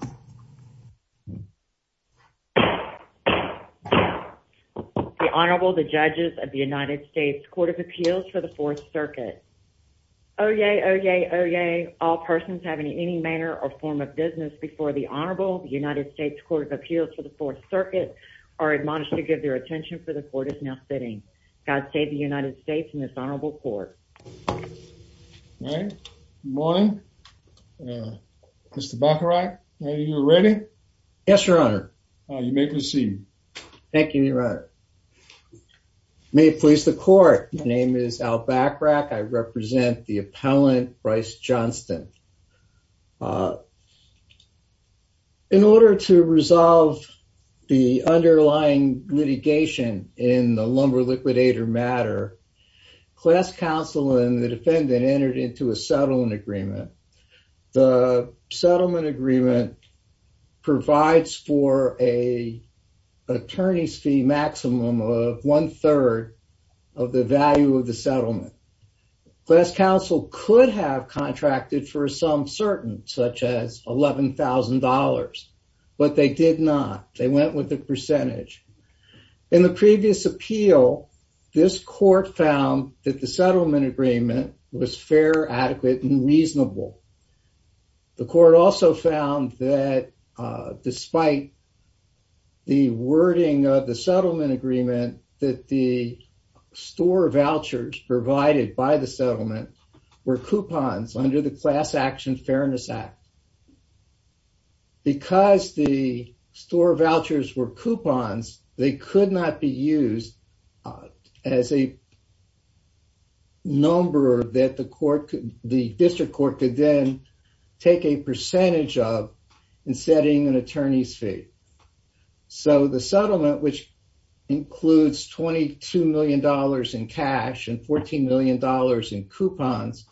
The Honorable, the Judges of the United States Court of Appeals for the Fourth Circuit. Oyez, oyez, oyez, all persons having any manner or form of business before the Honorable, the United States Court of Appeals for the Fourth Circuit, are admonished to give their attention for the Court is now sitting. God save the United States and this Honorable Court. All right. Good morning. Mr. Bacharach, are you ready? Yes, Your Honor. You may proceed. Thank you, Your Honor. May it please the Court, my name is Al Bacharach. I represent the appellant, Bryce Johnston. In order to resolve the underlying litigation in the Lumber Liquidator matter, class counsel and the defendant entered into a settlement agreement. The settlement agreement provides for an attorney's fee maximum of one-third of the value of the settlement. Class counsel could have contracted for some certain, such as $11,000, but they did not. They went with the percentage. In the previous appeal, this court found that the settlement agreement was fair, adequate, and reasonable. The court also found that despite the wording of the settlement agreement, that the store vouchers provided by the settlement were coupons under the Class Action Fairness Act. Because the store vouchers were coupons, they could not be used as a number that the District Court could then take a percentage of in setting an attorney's fee. So the settlement, which includes $22 million in cash and $14 million in coupons,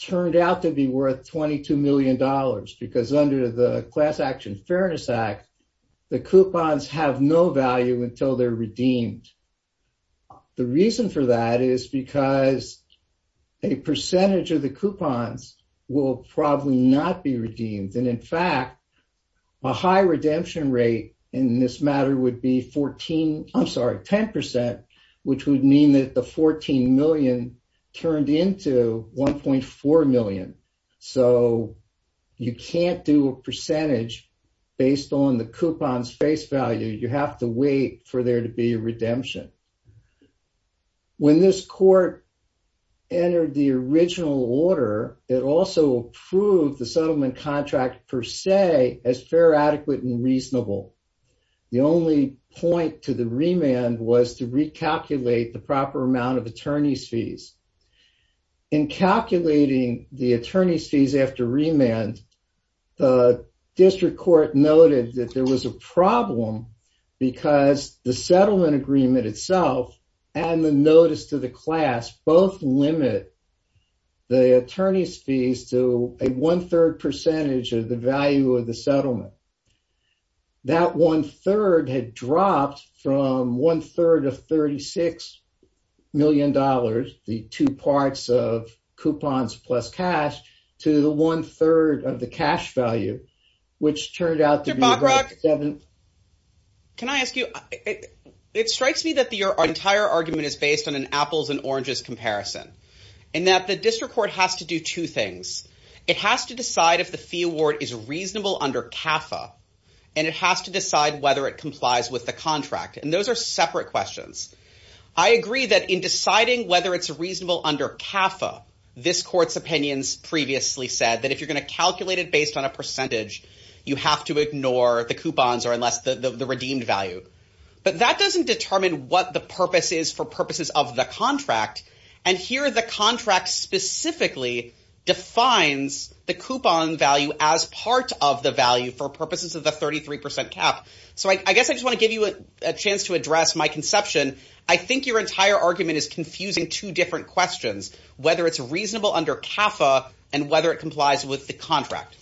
turned out to be worth $22 million because under the Class Action Fairness Act, the coupons have no value until they're redeemed. The reason for that is because a percentage of the coupons will probably not be redeemed. And in fact, a high redemption rate in this matter would be 10%, which would mean that the $14 million turned into $1.4 million. So you can't do a percentage based on the coupon's face value. You have to wait for there to be a redemption. When this court entered the original order, it also approved the settlement contract per se as fair, adequate, and reasonable. The only point to the remand was to recalculate the proper amount of attorney's fees. In calculating the attorney's fees after remand, the District Court noted that there was a problem because the settlement agreement itself and the notice to the class both limit the attorney's fees to a one-third percentage of the value of the settlement. That one-third had dropped from one-third of $36 million, the two parts of coupons plus cash, to the one-third of the cash value, which turned out to be about seven. Can I ask you, it strikes me that your entire argument is based on an apples and oranges comparison, and that the District Court has to do two things. It has to decide if the fee award is reasonable under CAFA, and it has to decide whether it complies with the contract. And those are separate questions. I agree that in deciding whether it's reasonable under CAFA, this court's opinions previously said that if you're going to calculate it based on a percentage, you have to ignore the coupons or the redeemed value. But that doesn't determine what the purpose is for purposes of the contract, and here the contract specifically defines the coupon value as part of the value for purposes of the 33% cap. So I guess I just want to give you a chance to address my conception. I think your entire argument is confusing two different questions, whether it's reasonable under CAFA and whether it complies with the contract.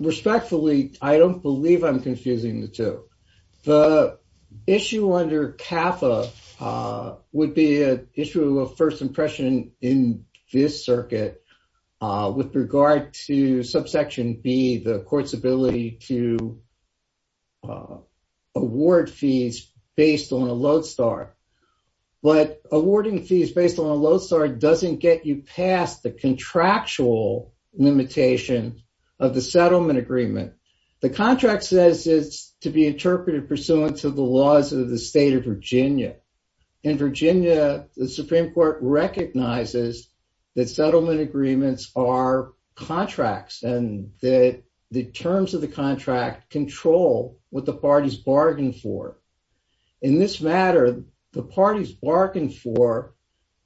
Respectfully, I don't believe I'm confusing the two. The issue under CAFA would be an issue of first impression in this circuit with regard to subsection B, the court's ability to award fees based on a load start. But awarding fees based on a load start doesn't get you past the contractual limitation of the settlement agreement. The contract says it's to be interpreted pursuant to the laws of the state of Virginia. In Virginia, the Supreme Court recognizes that settlement agreements are contracts and that the terms of the contract control what the parties bargain for. In this matter, the parties bargain for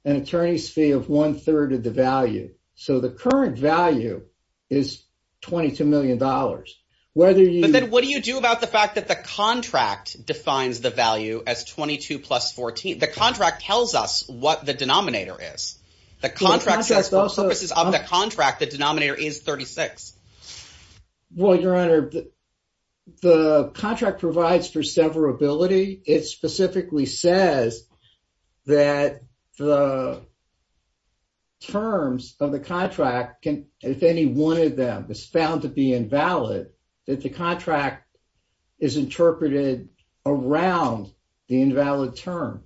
an attorney's fee of one-third of the value. So the current value is $22 million. But then what do you do about the fact that the contract defines the value as 22 plus 14? The contract tells us what the denominator is. The contract says for purposes of the contract, the denominator is 36. Well, Your Honor, the contract provides for severability. It specifically says that the terms of the contract, if any one of them is found to be invalid, that the contract is interpreted around the invalid term.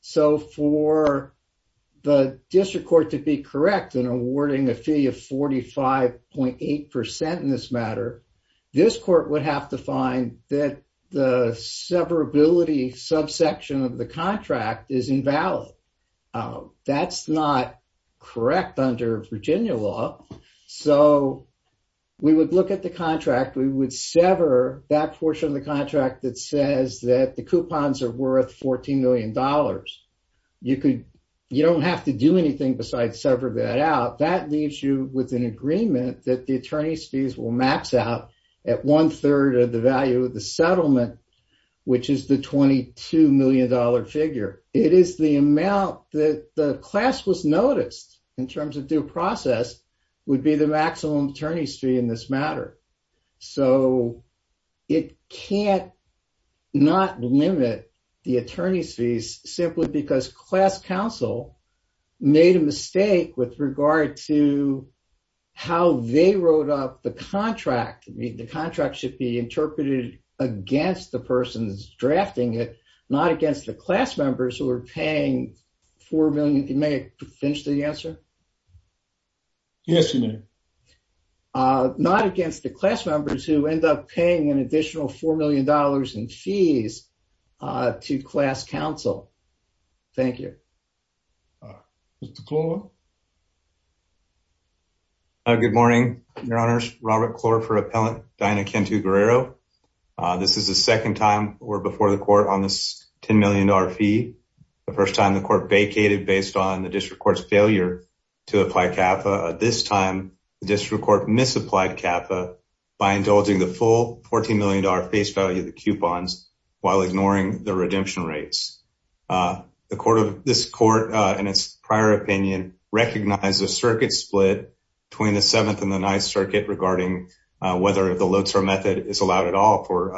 So for the district court to be correct in awarding a fee of 45.8% in this matter, this court would have to find that the severability subsection of the contract is invalid. That's not correct under Virginia law. So we would look at the contract. We would sever that portion of the contract that says that the coupons are worth $14 million. You don't have to do anything besides sever that out. That leaves you with an agreement that the attorney's fees will max out at one-third of the value of the settlement, which is the $22 million figure. It is the amount that the class was noticed in terms of due process would be the maximum attorney's fee in this matter. So it can't not limit the attorney's fees simply because class counsel made a mistake with regard to how they wrote up the contract. The contract should be interpreted against the person who is drafting it, not against the class members who are paying $4 million. May I finish the answer? Yes, you may. Not against the class members who end up paying an additional $4 million in fees to class counsel. Thank you. Mr. Klor? Good morning. This is the second time we are before the court on this $10 million fee. The first time the court vacated based on the district court's failure to apply CAFA. This time the district court misapplied CAFA by indulging the full $14 million face value of the coupons while ignoring the redemption rates. This court, in its prior opinion, recognized a circuit split between the Seventh and the Ninth Circuit regarding whether the Lodestar method is allowed at all for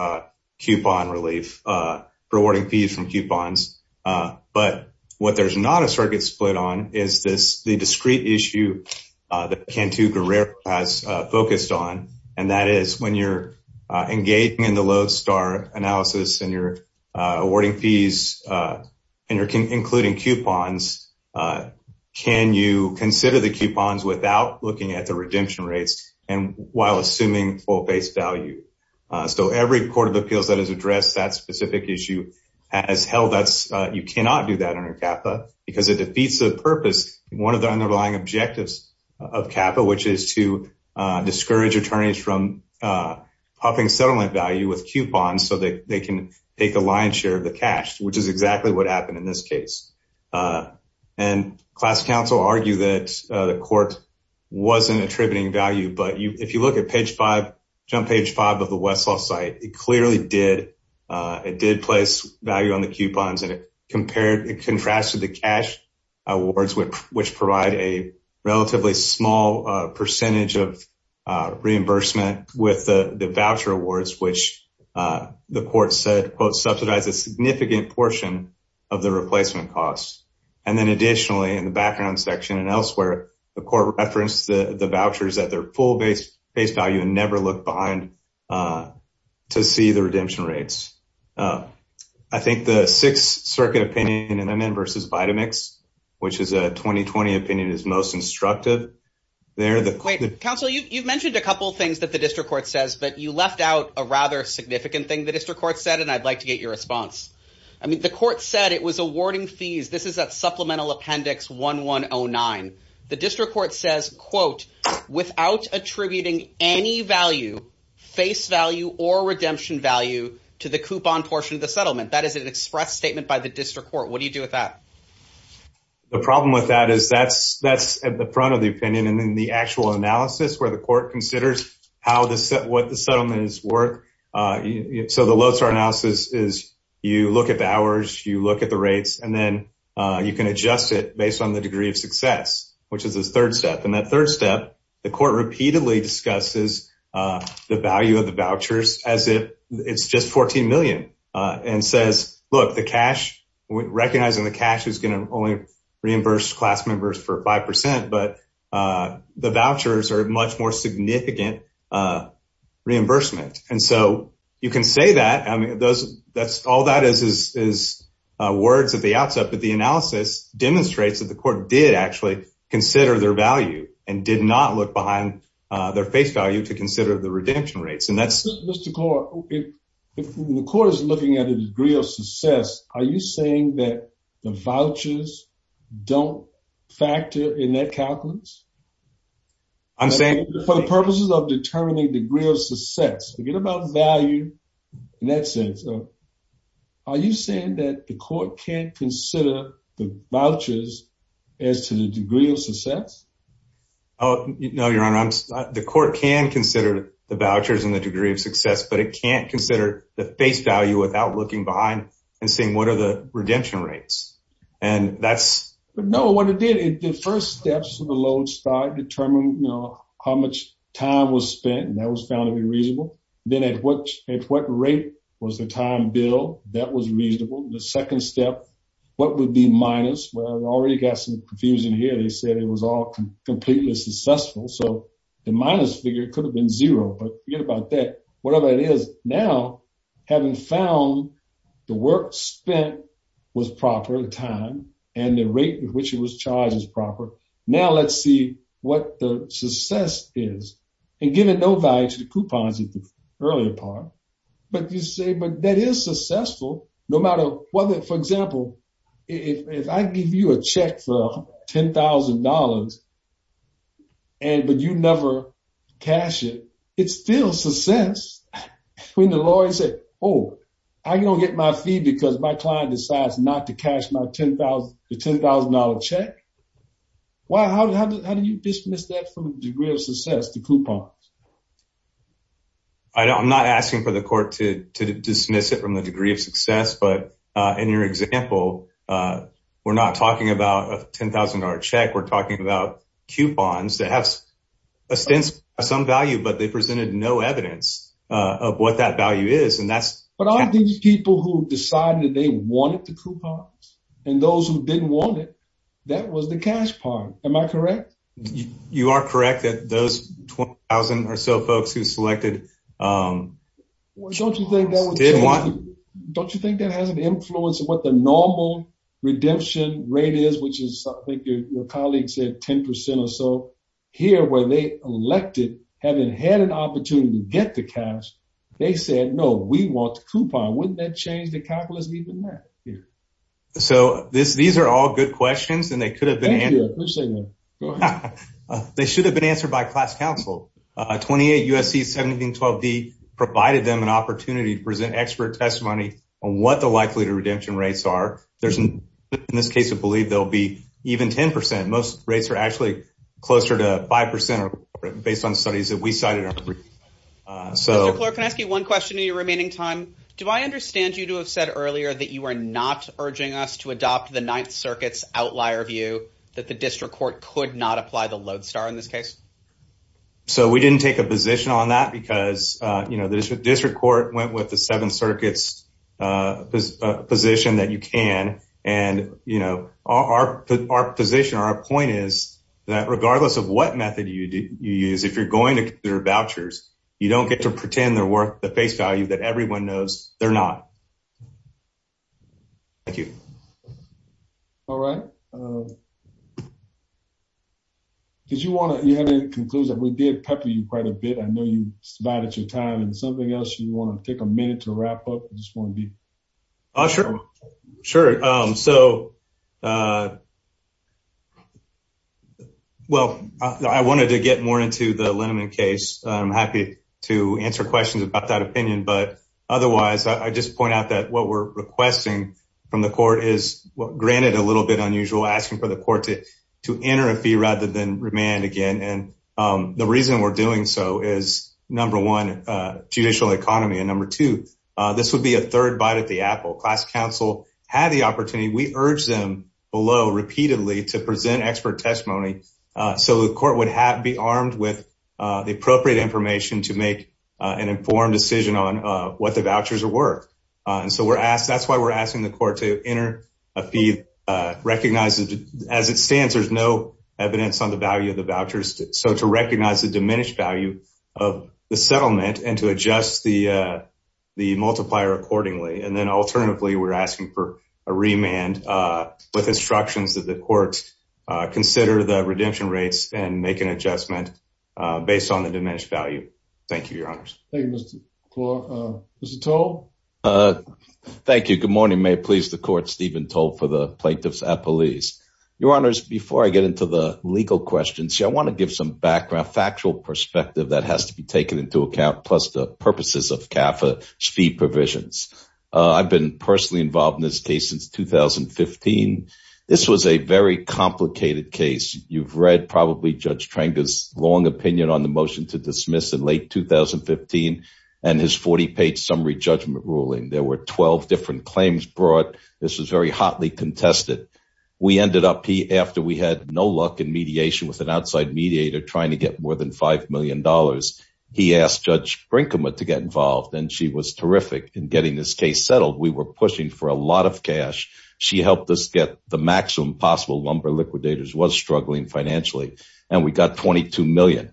awarding fees from coupons. But what there is not a circuit split on is the discrete issue that Cantu Guerrero has focused on. And that is, when you are engaging in the Lodestar analysis and you are awarding fees and you are including coupons, can you consider the coupons without looking at the redemption rates and while assuming full face value? So every court of appeals that has addressed that specific issue has held that you cannot do that under CAFA because it defeats the purpose, one of the underlying objectives of CAFA, which is to discourage attorneys from puffing settlement value with coupons so they can take a lion's share of the cash, which is exactly what happened in this case. And class counsel argue that the court wasn't attributing value, but if you look at page five, jump page five of the Westlaw site, it clearly did. It did place value on the coupons and it compared and contrasted the cash awards, which provide a relatively small percentage of reimbursement with the voucher awards, which the court said, quote, subsidize a significant portion of the replacement costs. And then additionally, in the background section and elsewhere, the court referenced the vouchers at their full base value and never looked behind to see the redemption rates. I think the Sixth Circuit opinion in MN versus Vitamix, which is a 2020 opinion, is most instructive. Wait, counsel, you've mentioned a couple of things that the district court says, but you left out a rather significant thing the district court said, and I'd like to get your response. I mean, the court said it was awarding fees. This is that supplemental appendix 1109. The district court says, quote, without attributing any value, face value or redemption value to the coupon portion of the settlement. That is an express statement by the district court. What do you do with that? The problem with that is that's at the front of the opinion. And then the actual analysis where the court considers what the settlement is worth. So the Lozar analysis is you look at the hours, you look at the rates, and then you can adjust it based on the degree of success, which is the third step. And that third step, the court repeatedly discusses the value of the vouchers as if it's just $14 million and says, look, the cash, recognizing the cash is going to only reimburse class members for 5%, but the vouchers are much more significant reimbursement. And so you can say that. I mean, that's all that is, is words at the outset. But the analysis demonstrates that the court did actually consider their value and did not look behind their face value to consider the redemption rates. And that's The court is looking at a degree of success. Are you saying that the vouchers don't factor in that calculus? I'm saying For the purposes of determining degree of success, forget about value in that sense. Are you saying that the court can't consider the vouchers as to the degree of success? Oh, no, Your Honor. The court can consider the vouchers and the degree of success, but it can't consider the face value without looking behind and seeing what are the redemption rates. And that's But no, what it did, the first steps of the load start determine, you know, how much time was spent and that was found to be reasonable. Then at what rate was the time bill that was reasonable. The second step, what would be minus. Well, I already got some confusion here. They said it was all completely successful. So The minus figure could have been zero, but forget about that. Whatever it is now having found the work spent Was proper time and the rate at which it was charged as proper. Now let's see what the success is and give it no value to the coupons at the earlier part. But you say, but that is successful, no matter whether, for example, if I give you a check for $10,000 And but you never cash it. It's still success when the lawyer said, oh, I'm going to get my fee because my client decides not to cash my $10,000 check. Well, how do you dismiss that from the degree of success to coupons? I don't, I'm not asking for the court to dismiss it from the degree of success, but in your example, we're not talking about a $10,000 check. We're talking about coupons that have Some value, but they presented no evidence of what that value is. And that's But all these people who decided they wanted to coupons and those who didn't want it. That was the cash part. Am I correct You are correct that those 20,000 or so folks who selected Didn't want Don't you think that has an influence of what the normal redemption rate is, which is something your colleague said 10% or so here where they elected having had an opportunity to get the cash. They said, no, we want coupon. Wouldn't that change the calculus, even that? So these are all good questions and they could have been They should have been answered by class counsel 28 USC 1712 D provided them an opportunity to present expert testimony on what the likelihood of redemption rates are. There's an in this case of believe there'll be even 10% most rates are actually closer to 5% or based on studies that we cited So can I ask you one question in your remaining time. Do I understand you to have said earlier that you are not urging us to adopt the Ninth Circuit's outlier view that the district court could not apply the load star in this case. So we didn't take a position on that because, you know, there's a district court went with the seven circuits position that you can and, you know, our, our position. Our point is that regardless of what method you use. If you're going to their vouchers. You don't get to pretend they're worth the face value that everyone knows they're not Thank you. All right. Did you want to conclude that we did pepper you quite a bit. I know you started your time and something else you want to take a minute to wrap up just want to be Sure, sure. So Well, I wanted to get more into the Lenin case. I'm happy to answer questions about that opinion. But otherwise, I just point out that what we're requesting from the court is what granted a little bit unusual asking for the court to to enter a fee rather than remand again. And the reason we're doing so is number one, judicial economy and number two. This would be a third bite at the apple class council had the opportunity. We urge them below repeatedly to present expert testimony. So the court would have be armed with the appropriate information to make an informed decision on what the vouchers are worth. And so we're asked. That's why we're asking the court to enter a fee recognizes as it stands, there's no evidence on the value of the vouchers. So to recognize the diminished value of the settlement and to adjust the The multiplier accordingly. And then alternatively, we're asking for a remand with instructions that the courts consider the redemption rates and make an adjustment based on the diminished value. Thank you, your honors. Thank you, Mr. Claw. Mr. Toll. Thank you. Good morning. May it please the court. Stephen told for the plaintiffs at police, your honors. Before I get into the legal questions, I want to give some background factual perspective that has to be taken into account. Plus, the purposes of CAFA speed provisions. I've been personally involved in this case since 2015. This was a very complicated case. You've read probably Judge Trang is long opinion on the motion to dismiss in late 2015 and his 40 page summary judgment ruling. There were 12 different claims brought. This was very hotly contested. We ended up after we had no luck in mediation with an outside mediator trying to get more than $5 million. He asked Judge Brinkman to get involved and she was terrific in getting this case settled. We were pushing for a lot of cash. She helped us get the maximum possible lumber liquidators was struggling financially. And we got $22 million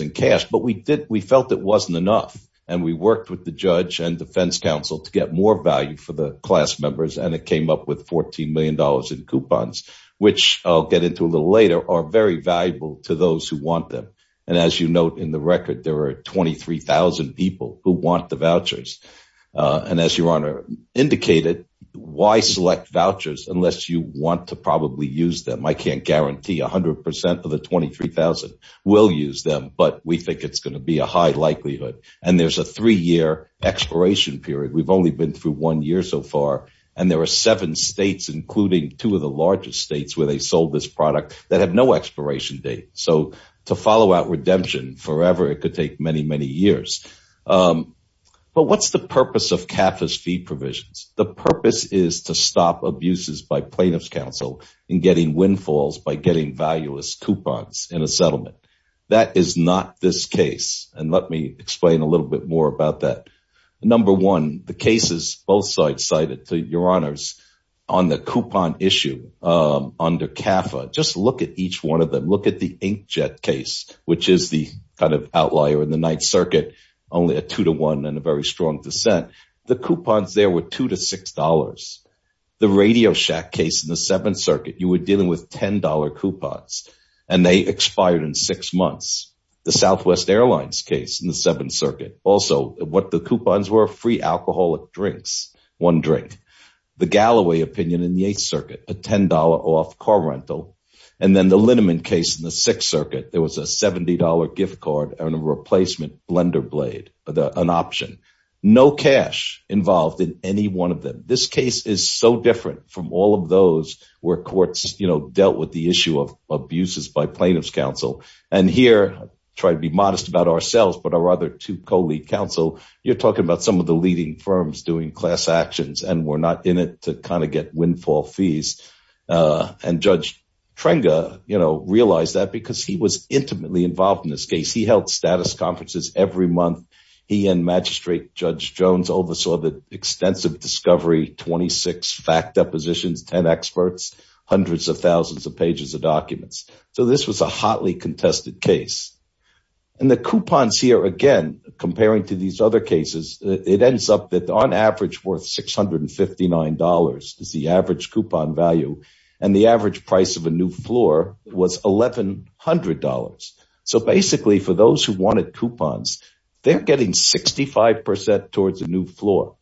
in cash, but we did. We felt it wasn't enough. And we worked with the judge and defense council to get more value for the class members. And it came up with $14 million in coupons, which I'll get into a little later are very valuable to those who want them. And as you note in the record, there are 23,000 people who want the vouchers. And as your honor indicated, why select vouchers unless you want to probably use them? I can't guarantee 100% of the 23,000 will use them, but we think it's going to be a high likelihood. And there's a three year expiration period. We've only been through one year so far. And there are seven states, including two of the largest states where they sold this product that have no expiration date. So to follow out redemption forever, it could take many, many years. But what's the purpose of capitalist fee provisions? The purpose is to stop abuses by plaintiff's counsel in getting windfalls by getting valueless coupons in a settlement. That is not this case. And let me explain a little bit more about that. Number one, the cases both sides cited to your honors on the coupon issue under CAFA, just look at each one of them. Look at the inkjet case, which is the kind of outlier in the Ninth Circuit, only a two to one and a very strong dissent. The coupons there were two to $6. The Radio Shack case in the Seventh Circuit, you were dealing with $10 coupons, and they expired in six months. The Southwest Airlines case in the Seventh Circuit. Also, what the coupons were free alcoholic drinks, one drink. The Galloway opinion in the Eighth Circuit, a $10 off car rental. And then the liniment case in the Sixth Circuit, there was a $70 gift card and a replacement blender blade, an option. No cash involved in any one of them. This case is so different from all of those where courts dealt with the issue of abuses by plaintiff's counsel. And here, try to be modest about ourselves, but our other two co-lead counsel, you're talking about some of the leading firms doing class actions, and we're not in it to kind of get windfall fees. And Judge Trenga realized that because he was intimately involved in this case. He held status conferences every month. He and Magistrate Judge Jones oversaw the extensive discovery, 26 fact depositions, 10 experts, hundreds of thousands of pages of documents. So this was a hotly contested case. And the coupons here, again, comparing to these other cases, it ends up that on average worth $659 is the average coupon value. And the average price of a new floor was $1,100. So basically, for those who wanted coupons, they're getting 65% towards a new floor.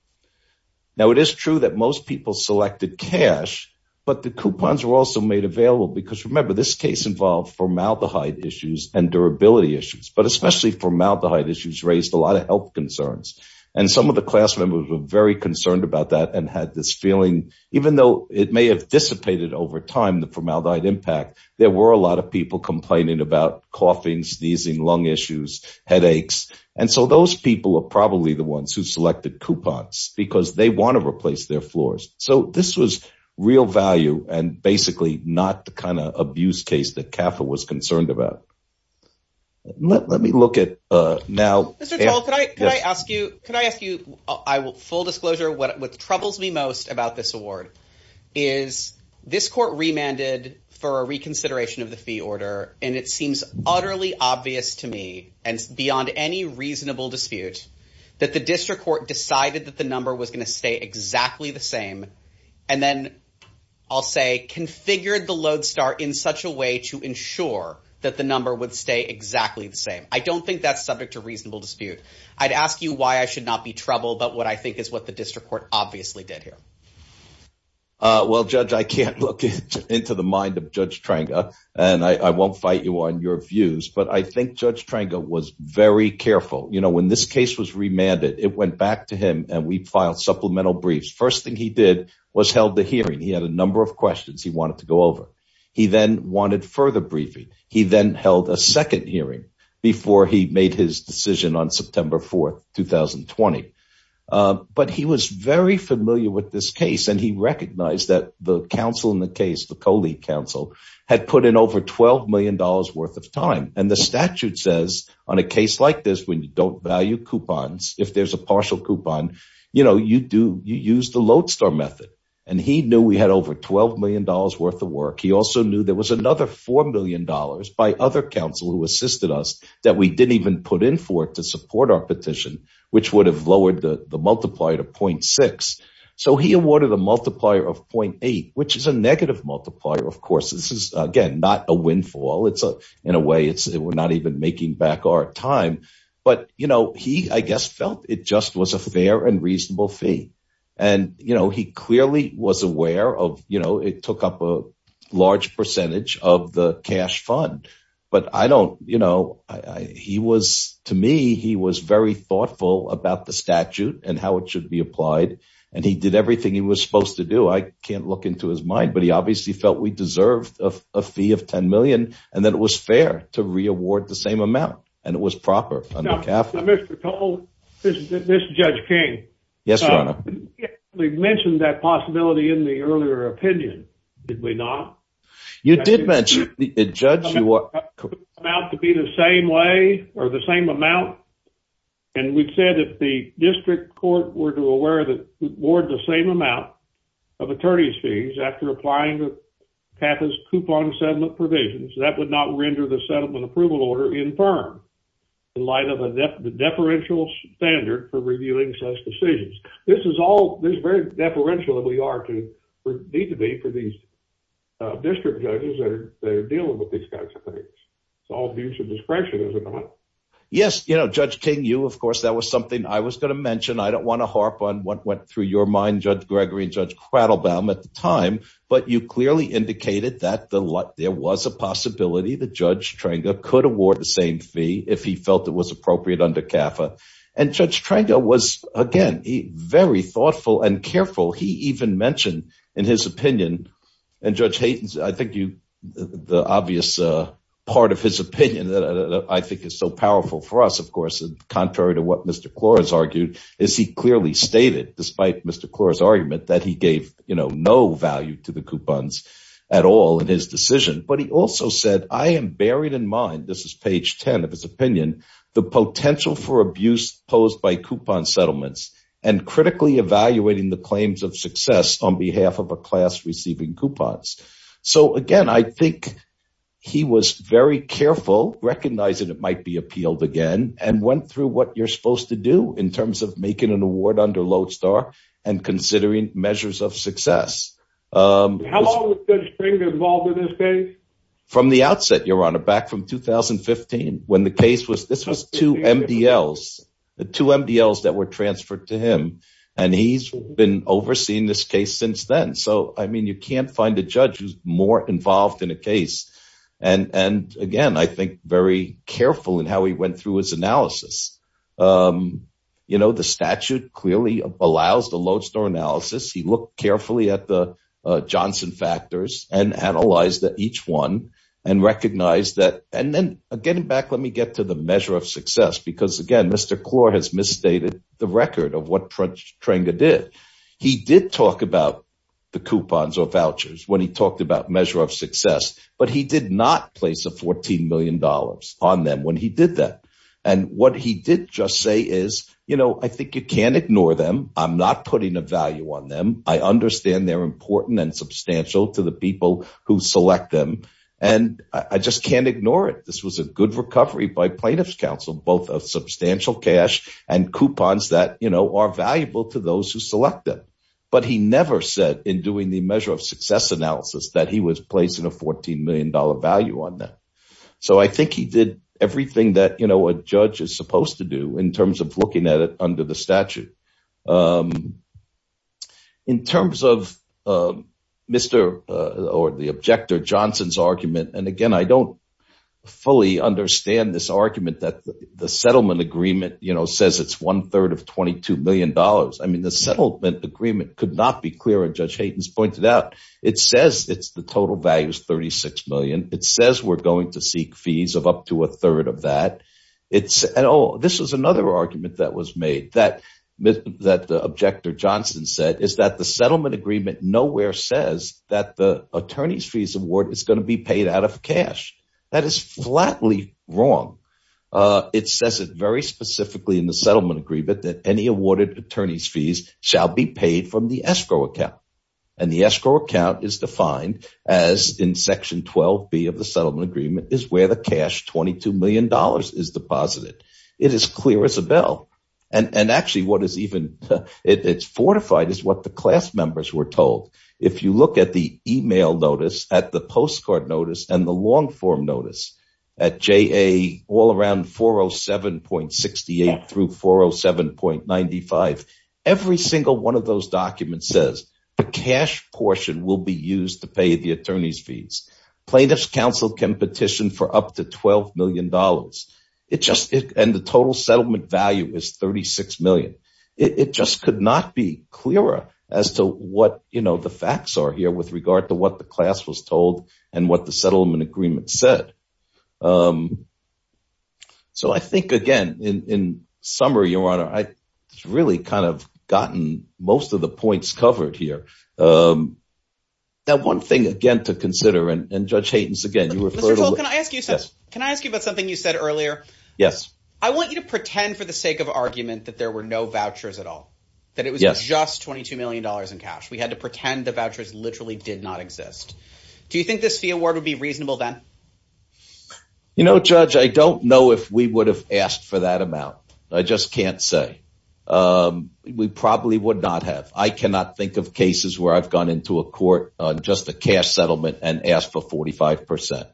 Now, it is true that most people selected cash, but the coupons were also made available because remember, this case involved formaldehyde issues and durability issues, but especially formaldehyde issues raised a lot of health concerns. And some of the class members were very concerned about that and had this feeling, even though it may have dissipated over time, the formaldehyde impact, there were a lot of people complaining about coughing, sneezing, lung issues, headaches. And so those people are probably the ones who selected coupons because they want to replace their floors. So this was real value and basically not the kind of abuse case that CAFA was concerned about. Let me look at now. I don't think that's subject to reasonable dispute. I'd ask you why I should not be troubled. But what I think is what the district court obviously did here. Before he made his decision on September 4, 2020. But he was very familiar with this case and he recognized that the counsel in the case, the co-lead counsel, had put in over $12 million worth of time. And the statute says on a case like this, when you don't value coupons, if there's a partial coupon, you use the lodestar method. And he knew we had over $12 million worth of work. He also knew there was another $4 million by other counsel who assisted us that we didn't even put in for it to support our petition, which would have lowered the multiplier to 0.6. So he awarded a multiplier of 0.8, which is a negative multiplier. Of course, this is, again, not a windfall. In a way, we're not even making back our time. But, you know, he, I guess, felt it just was a fair and reasonable fee. And, you know, he clearly was aware of, you know, it took up a large percentage of the cash fund. But I don't, you know, he was to me, he was very thoughtful about the statute and how it should be applied. And he did everything he was supposed to do. I can't look into his mind, but he obviously felt we deserved a fee of $10 million and that it was fair to reaward the same amount. And it was proper. Mr. Cole, this is Judge King. Yes, Your Honor. We mentioned that possibility in the earlier opinion, did we not? You did mention it, Judge. About to be the same way or the same amount. And we've said that the district court were to award the same amount of attorney's fees after applying the PATHIS coupon settlement provisions. That would not render the settlement approval order infirm in light of a deferential standard for reviewing such decisions. This is all this very deferential that we are to need to be for these district judges that are dealing with these kinds of things. It's all due to discretion, isn't it? Yes. You know, Judge King, you, of course, that was something I was going to mention. I don't want to harp on what went through your mind, Judge Gregory and Judge Quattlebaum at the time. But you clearly indicated that there was a possibility that Judge Trenga could award the same fee if he felt it was appropriate under CAFA. And Judge Trenga was, again, very thoughtful and careful. He even mentioned in his opinion and Judge Hayden's. I think you the obvious part of his opinion that I think is so powerful for us, of course, contrary to what Mr. Clore has argued is he clearly stated, despite Mr. Clore's argument that he gave no value to the coupons at all in his decision. But he also said, I am buried in mind. This is page 10 of his opinion. The potential for abuse posed by coupon settlements and critically evaluating the claims of success on behalf of a class receiving coupons. So, again, I think he was very careful, recognizing it might be appealed again and went through what you're supposed to do in terms of making an award under Lodestar and considering measures of success. How long was Judge Trenga involved in this case? From the outset, Your Honor, back from 2015, when the case was this was two MDLs, the two MDLs that were transferred to him. And he's been overseeing this case since then. So, I mean, you can't find a judge who's more involved in a case. And again, I think very careful in how he went through his analysis. You know, the statute clearly allows the Lodestar analysis. He looked carefully at the Johnson factors and analyzed each one and recognized that. And then getting back, let me get to the measure of success, because, again, Mr. Clore has misstated the record of what Trenga did. He did talk about the coupons or vouchers when he talked about measure of success. But he did not place a 14 million dollars on them when he did that. And what he did just say is, you know, I think you can't ignore them. I'm not putting a value on them. I understand they're important and substantial to the people who select them. And I just can't ignore it. This was a good recovery by plaintiff's counsel, both of substantial cash and coupons that, you know, are valuable to those who select them. But he never said in doing the measure of success analysis that he was placing a 14 million dollar value on that. So I think he did everything that, you know, a judge is supposed to do in terms of looking at it under the statute. In terms of Mr. or the objector Johnson's argument, and again, I don't fully understand this argument that the settlement agreement, you know, says it's one third of 22 million dollars. I mean, the settlement agreement could not be clearer. Judge Hayden's pointed out. It says it's the total value is 36 million. It says we're going to seek fees of up to a third of that. It's at all. This is another argument that was made that that the objector Johnson said is that the settlement agreement nowhere says that the attorney's fees award is going to be paid out of cash. That is flatly wrong. It says it very specifically in the settlement agreement that any awarded attorney's fees shall be paid from the escrow account. And the escrow account is defined as in section 12 B of the settlement agreement is where the cash 22 million dollars is deposited. It is clear as a bell. And actually, what is even it's fortified is what the class members were told. If you look at the email notice at the postcard notice and the long form notice at J.A. all around 407 point 68 through 407 point 95, every single one of those documents says the cash portion will be used to pay the attorney's fees. Plaintiff's counsel can petition for up to 12 million dollars. It just and the total settlement value is 36 million. It just could not be clearer as to what the facts are here with regard to what the class was told and what the settlement agreement said. So I think, again, in summary, your honor, I really kind of gotten most of the points covered here. Now, one thing, again, to consider and judge Hayden's again, you were told, can I ask you this? Can I ask you about something you said earlier? Yes. I want you to pretend for the sake of argument that there were no vouchers at all, that it was just 22 million dollars in cash. We had to pretend the vouchers literally did not exist. Do you think this fee award would be reasonable then? You know, Judge, I don't know if we would have asked for that amount. I just can't say we probably would not have. I cannot think of cases where I've gone into a court on just the cash settlement and asked for 45 percent.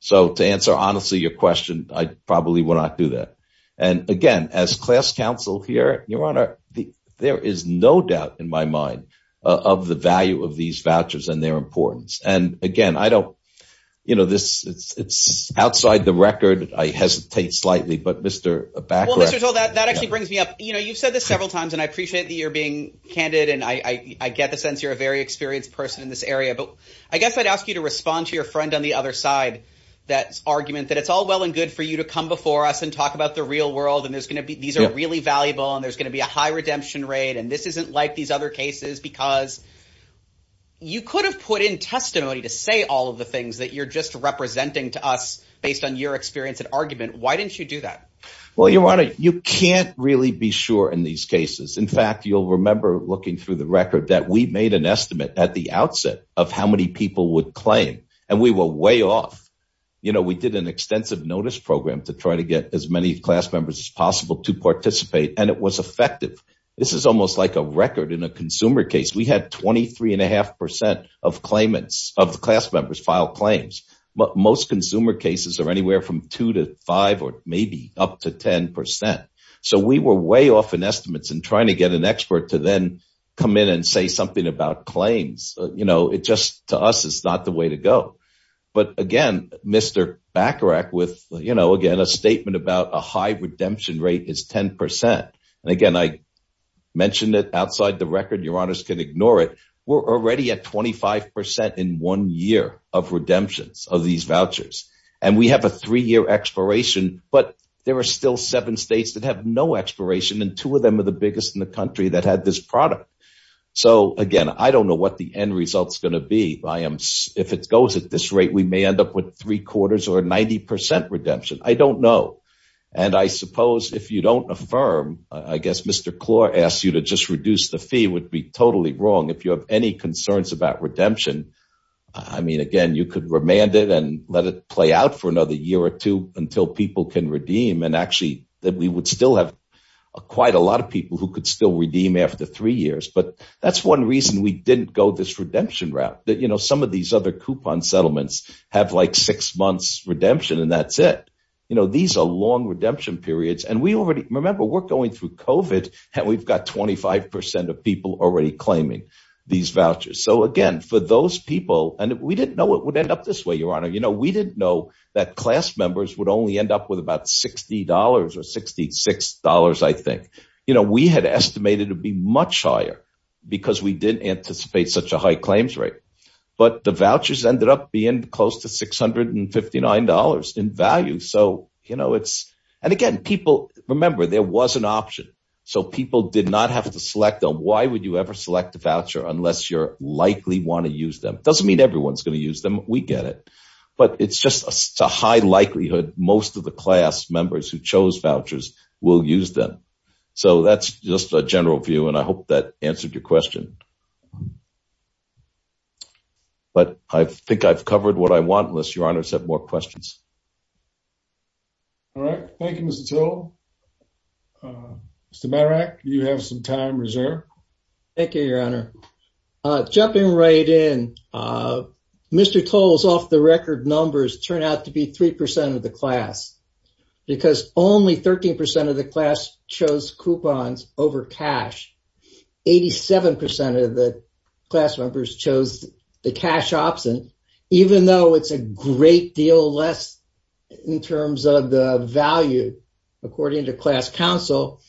So to answer, honestly, your question, I probably would not do that. And again, as class counsel here, your honor, there is no doubt in my mind of the value of these vouchers and their importance. And again, I don't you know, this it's outside the record. I hesitate slightly, but Mr. That actually brings me up. You know, you've said this several times and I appreciate that you're being candid. And I get the sense you're a very experienced person in this area. But I guess I'd ask you to respond to your friend on the other side. That's argument that it's all well and good for you to come before us and talk about the real world. And there's going to be these are really valuable and there's going to be a high redemption rate. And this isn't like these other cases, because you could have put in testimony to say all of the things that you're just representing to us based on your experience and argument. Why didn't you do that? Well, your honor, you can't really be sure in these cases. In fact, you'll remember looking through the record that we made an estimate at the outset of how many people would claim and we were way off. You know, we did an extensive notice program to try to get as many class members as possible to participate. And it was effective. This is almost like a record in a consumer case. We had twenty three and a half percent of claimants of the class members file claims. But most consumer cases are anywhere from two to five or maybe up to 10 percent. So we were way off in estimates and trying to get an expert to then come in and say something about claims. You know, it just to us is not the way to go. But again, Mr. Bacharach with, you know, again, a statement about a high redemption rate is 10 percent. And again, I mentioned it outside the record. Your honors can ignore it. We're already at twenty five percent in one year of redemptions of these vouchers. And we have a three year expiration. But there are still seven states that have no expiration. And two of them are the biggest in the country that had this product. So, again, I don't know what the end result is going to be. I am if it goes at this rate, we may end up with three quarters or 90 percent redemption. I don't know. And I suppose if you don't affirm, I guess Mr. Clore asks you to just reduce the fee would be totally wrong if you have any concerns about redemption. I mean, again, you could remand it and let it play out for another year or two until people can redeem. And actually that we would still have quite a lot of people who could still redeem after three years. But that's one reason we didn't go this redemption route that, you know, some of these other coupon settlements have like six months redemption. And that's it. You know, these are long redemption periods. And we already remember we're going through covid and we've got twenty five percent of people already claiming these vouchers. So, again, for those people and we didn't know it would end up this way, your honor. You know, we didn't know that class members would only end up with about sixty dollars or sixty six dollars. I think, you know, we had estimated to be much higher because we didn't anticipate such a high claims rate. But the vouchers ended up being close to six hundred and fifty nine dollars in value. So, you know, it's and again, people remember there was an option. So people did not have to select. Why would you ever select a voucher unless you're likely want to use them? Doesn't mean everyone's going to use them. We get it. But it's just a high likelihood most of the class members who chose vouchers will use them. So that's just a general view. And I hope that answered your question. But I think I've covered what I want, unless your honors have more questions. All right. Thank you, Mr. Toll. Mr. Marek, you have some time reserved. Thank you, your honor. Jumping right in, Mr. Toll's off the record numbers turn out to be three percent of the class because only 13 percent of the class chose coupons over cash. Eighty seven percent of the class members chose the cash option, even though it's a great deal less in terms of the value. According to class council,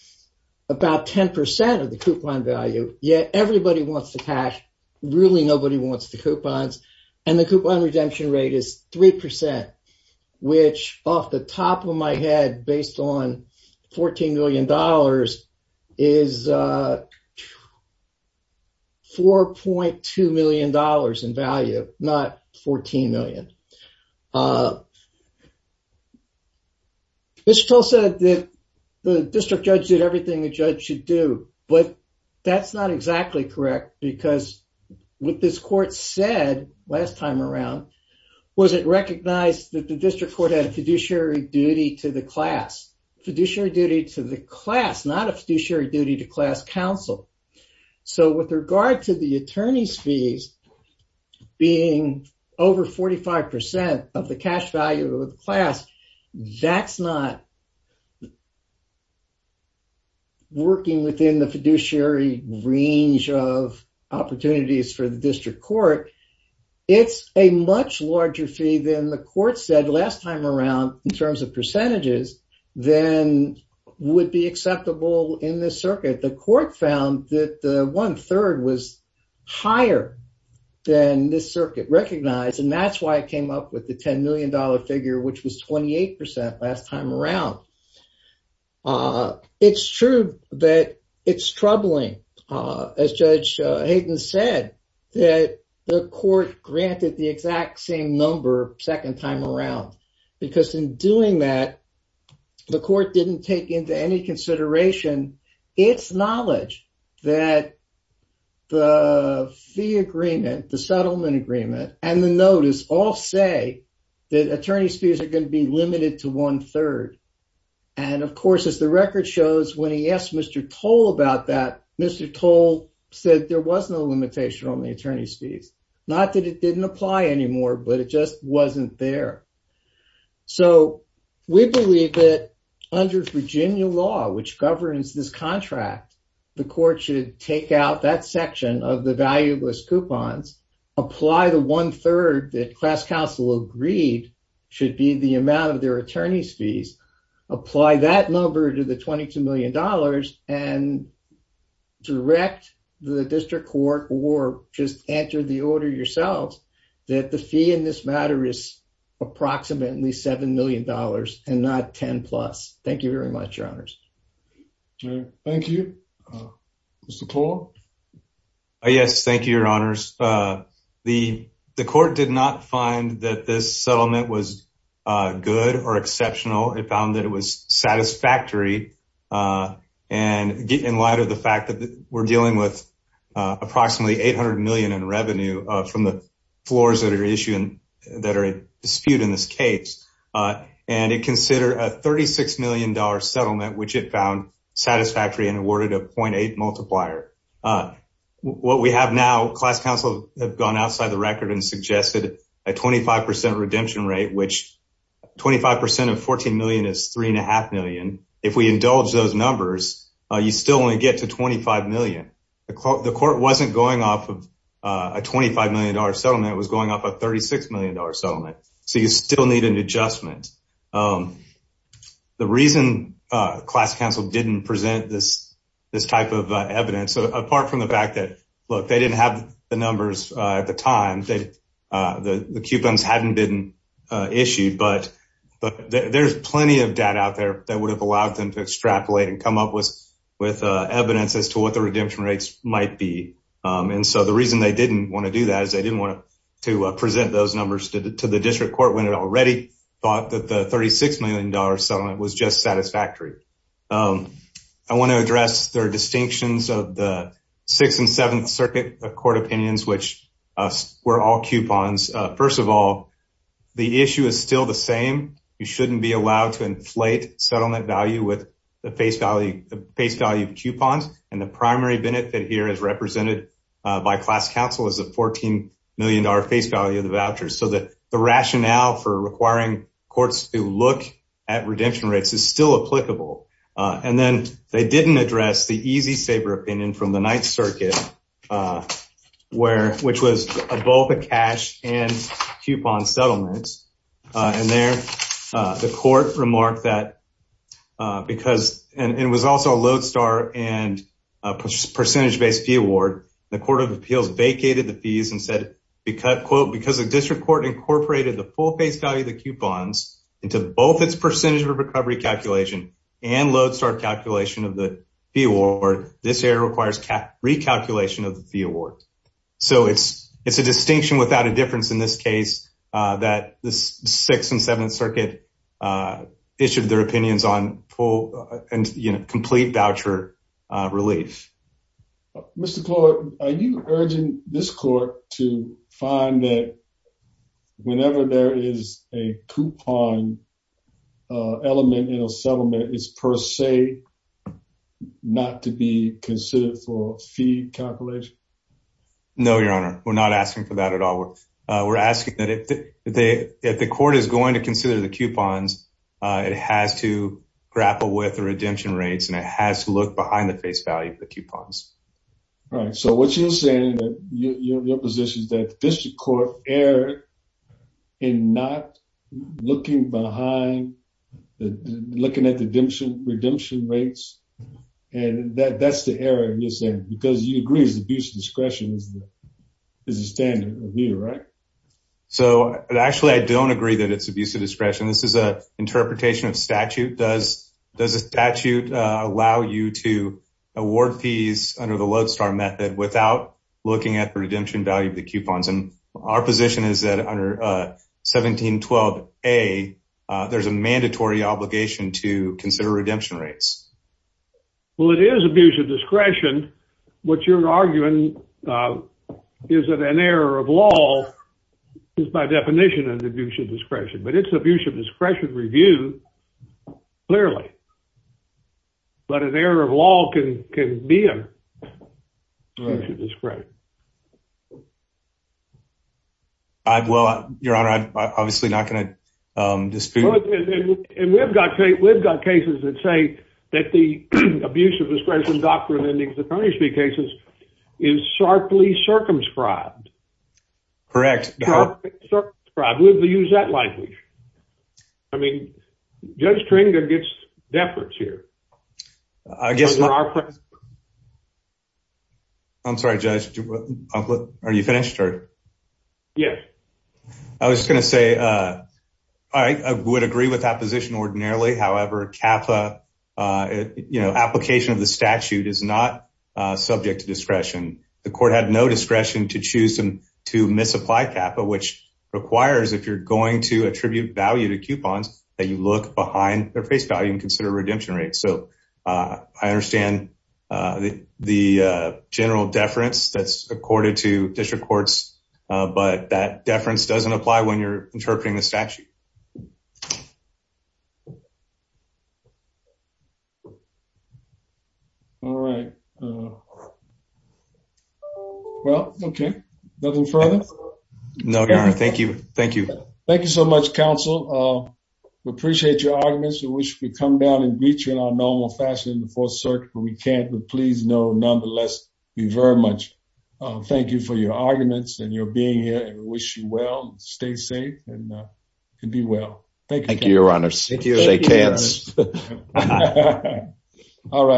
about 10 percent of the coupon value. Yeah. Everybody wants the cash. Really nobody wants the coupons. And the coupon redemption rate is three percent, which off the top of my head, based on 14 million dollars is. Four point two million dollars in value, not 14 million. Mr. Toll said that the district judge did everything the judge should do, but that's not exactly correct, because what this court said last time around was it recognized that the district court had a fiduciary duty to the class, fiduciary duty to the class, not a fiduciary duty to class council. So with regard to the attorney's fees being over 45 percent of the cash value of the class, that's not working within the fiduciary range of opportunities for the district court. It's a much larger fee than the court said last time around in terms of percentages than would be acceptable in this circuit. The court found that one third was higher than this circuit recognized. And that's why it came up with the 10 million dollar figure, which was 28 percent last time around. It's true that it's troubling, as Judge Hayden said, that the court granted the exact same number second time around, because in doing that, the court didn't take into any consideration its knowledge that the fee agreement, the settlement agreement, and the notice all say that attorney's fees are going to be limited to one third. And of course, as the record shows, when he asked Mr. Toll about that, Mr. Toll said there was no limitation on the attorney's fees. Not that it didn't apply anymore, but it just wasn't there. So we believe that under Virginia law, which governs this contract, the court should take out that section of the valueless coupons, apply the one third that class counsel agreed should be the amount of their attorney's fees, apply that number to the 22 million dollars and direct the district court or just enter the order yourself that the fee in this matter is approximately seven million dollars and not 10 plus. Thank you very much, Your Honors. Thank you, Mr. Toll. Yes. Thank you, Your Honors. The court did not find that this settlement was good or exceptional. It found that it was satisfactory. And in light of the fact that we're dealing with approximately 800 million in revenue from the floors that are issued that are a dispute in this case, and it considered a 36 million dollar settlement, which it found satisfactory and awarded a point eight multiplier. What we have now, class counsel have gone outside the record and suggested a 25 percent redemption rate, which 25 percent of 14 million is three and a half million. If we indulge those numbers, you still only get to 25 million. The court wasn't going off of a 25 million dollar settlement. It was going off a 36 million dollar settlement. So you still need an adjustment. The reason class counsel didn't present this this type of evidence, apart from the fact that, look, they didn't have the numbers at the time that the coupons hadn't been issued. But there's plenty of data out there that would have allowed them to extrapolate and come up with with evidence as to what the redemption rates might be. And so the reason they didn't want to do that is they didn't want to present those numbers to the district court when it already thought that the 36 million dollar settlement was just satisfactory. I want to address their distinctions of the Sixth and Seventh Circuit court opinions, which were all coupons. First of all, the issue is still the same. You shouldn't be allowed to inflate settlement value with the face value, the face value of coupons. And the primary benefit here is represented by class counsel as a 14 million dollar face value of the vouchers. So that the rationale for requiring courts to look at redemption rates is still applicable. And then they didn't address the EZ Sabre opinion from the Ninth Circuit, which was both a cash and coupon settlement. And there the court remarked that because it was also a lodestar and a percentage based fee award, the Court of Appeals vacated the fees and said, quote, because the district court incorporated the full face value of the coupons into both its percentage of recovery calculation and lodestar calculation of the fee award. This error requires recalculation of the fee award. So it's it's a distinction without a difference in this case that the Sixth and Seventh Circuit issued their opinions on full and complete voucher relief. Mr. Clark, are you urging this court to find that whenever there is a coupon element in a settlement, it's per se not to be considered for fee calculation? No, Your Honor, we're not asking for that at all. We're asking that if the court is going to consider the coupons, it has to grapple with the redemption rates and it has to look behind the face value of the coupons. All right. So what you're saying, your position is that the district court erred in not looking behind, looking at the redemption rates. And that's the error you're saying, because you agree is abuse of discretion is the standard of view, right? So actually, I don't agree that it's abuse of discretion. This is a interpretation of statute. Does does a statute allow you to award fees under the lodestar method without looking at the redemption value of the coupons? And our position is that under 1712A, there's a mandatory obligation to consider redemption rates. Well, it is abuse of discretion. What you're arguing is that an error of law is by definition an abuse of discretion. But it's abuse of discretion review, clearly. But an error of law can be an abuse of discretion. Well, your honor, I'm obviously not going to dispute. And we've got we've got cases that say that the abuse of discretion doctrine in the case is sharply circumscribed. Correct. We use that language. I mean, Judge Tringa gets deference here. I'm sorry, Judge. Are you finished? Yes. I was going to say I would agree with that position ordinarily. However, Kappa, you know, application of the statute is not subject to discretion. The court had no discretion to choose to misapply Kappa, which requires if you're going to attribute value to coupons, that you look behind their face value and consider redemption rates. So I understand the general deference that's accorded to district courts. But that deference doesn't apply when you're interpreting the statute. All right. Well, OK. Nothing further. No. Thank you. Thank you. Thank you so much, counsel. We appreciate your arguments. We wish we could come down and meet you in our normal fashion in the Fourth Circuit. We can't. But please know, nonetheless, we very much thank you for your arguments and your being here. Wish you well. Stay safe and be well. Thank you, your honor. Thank you. All right.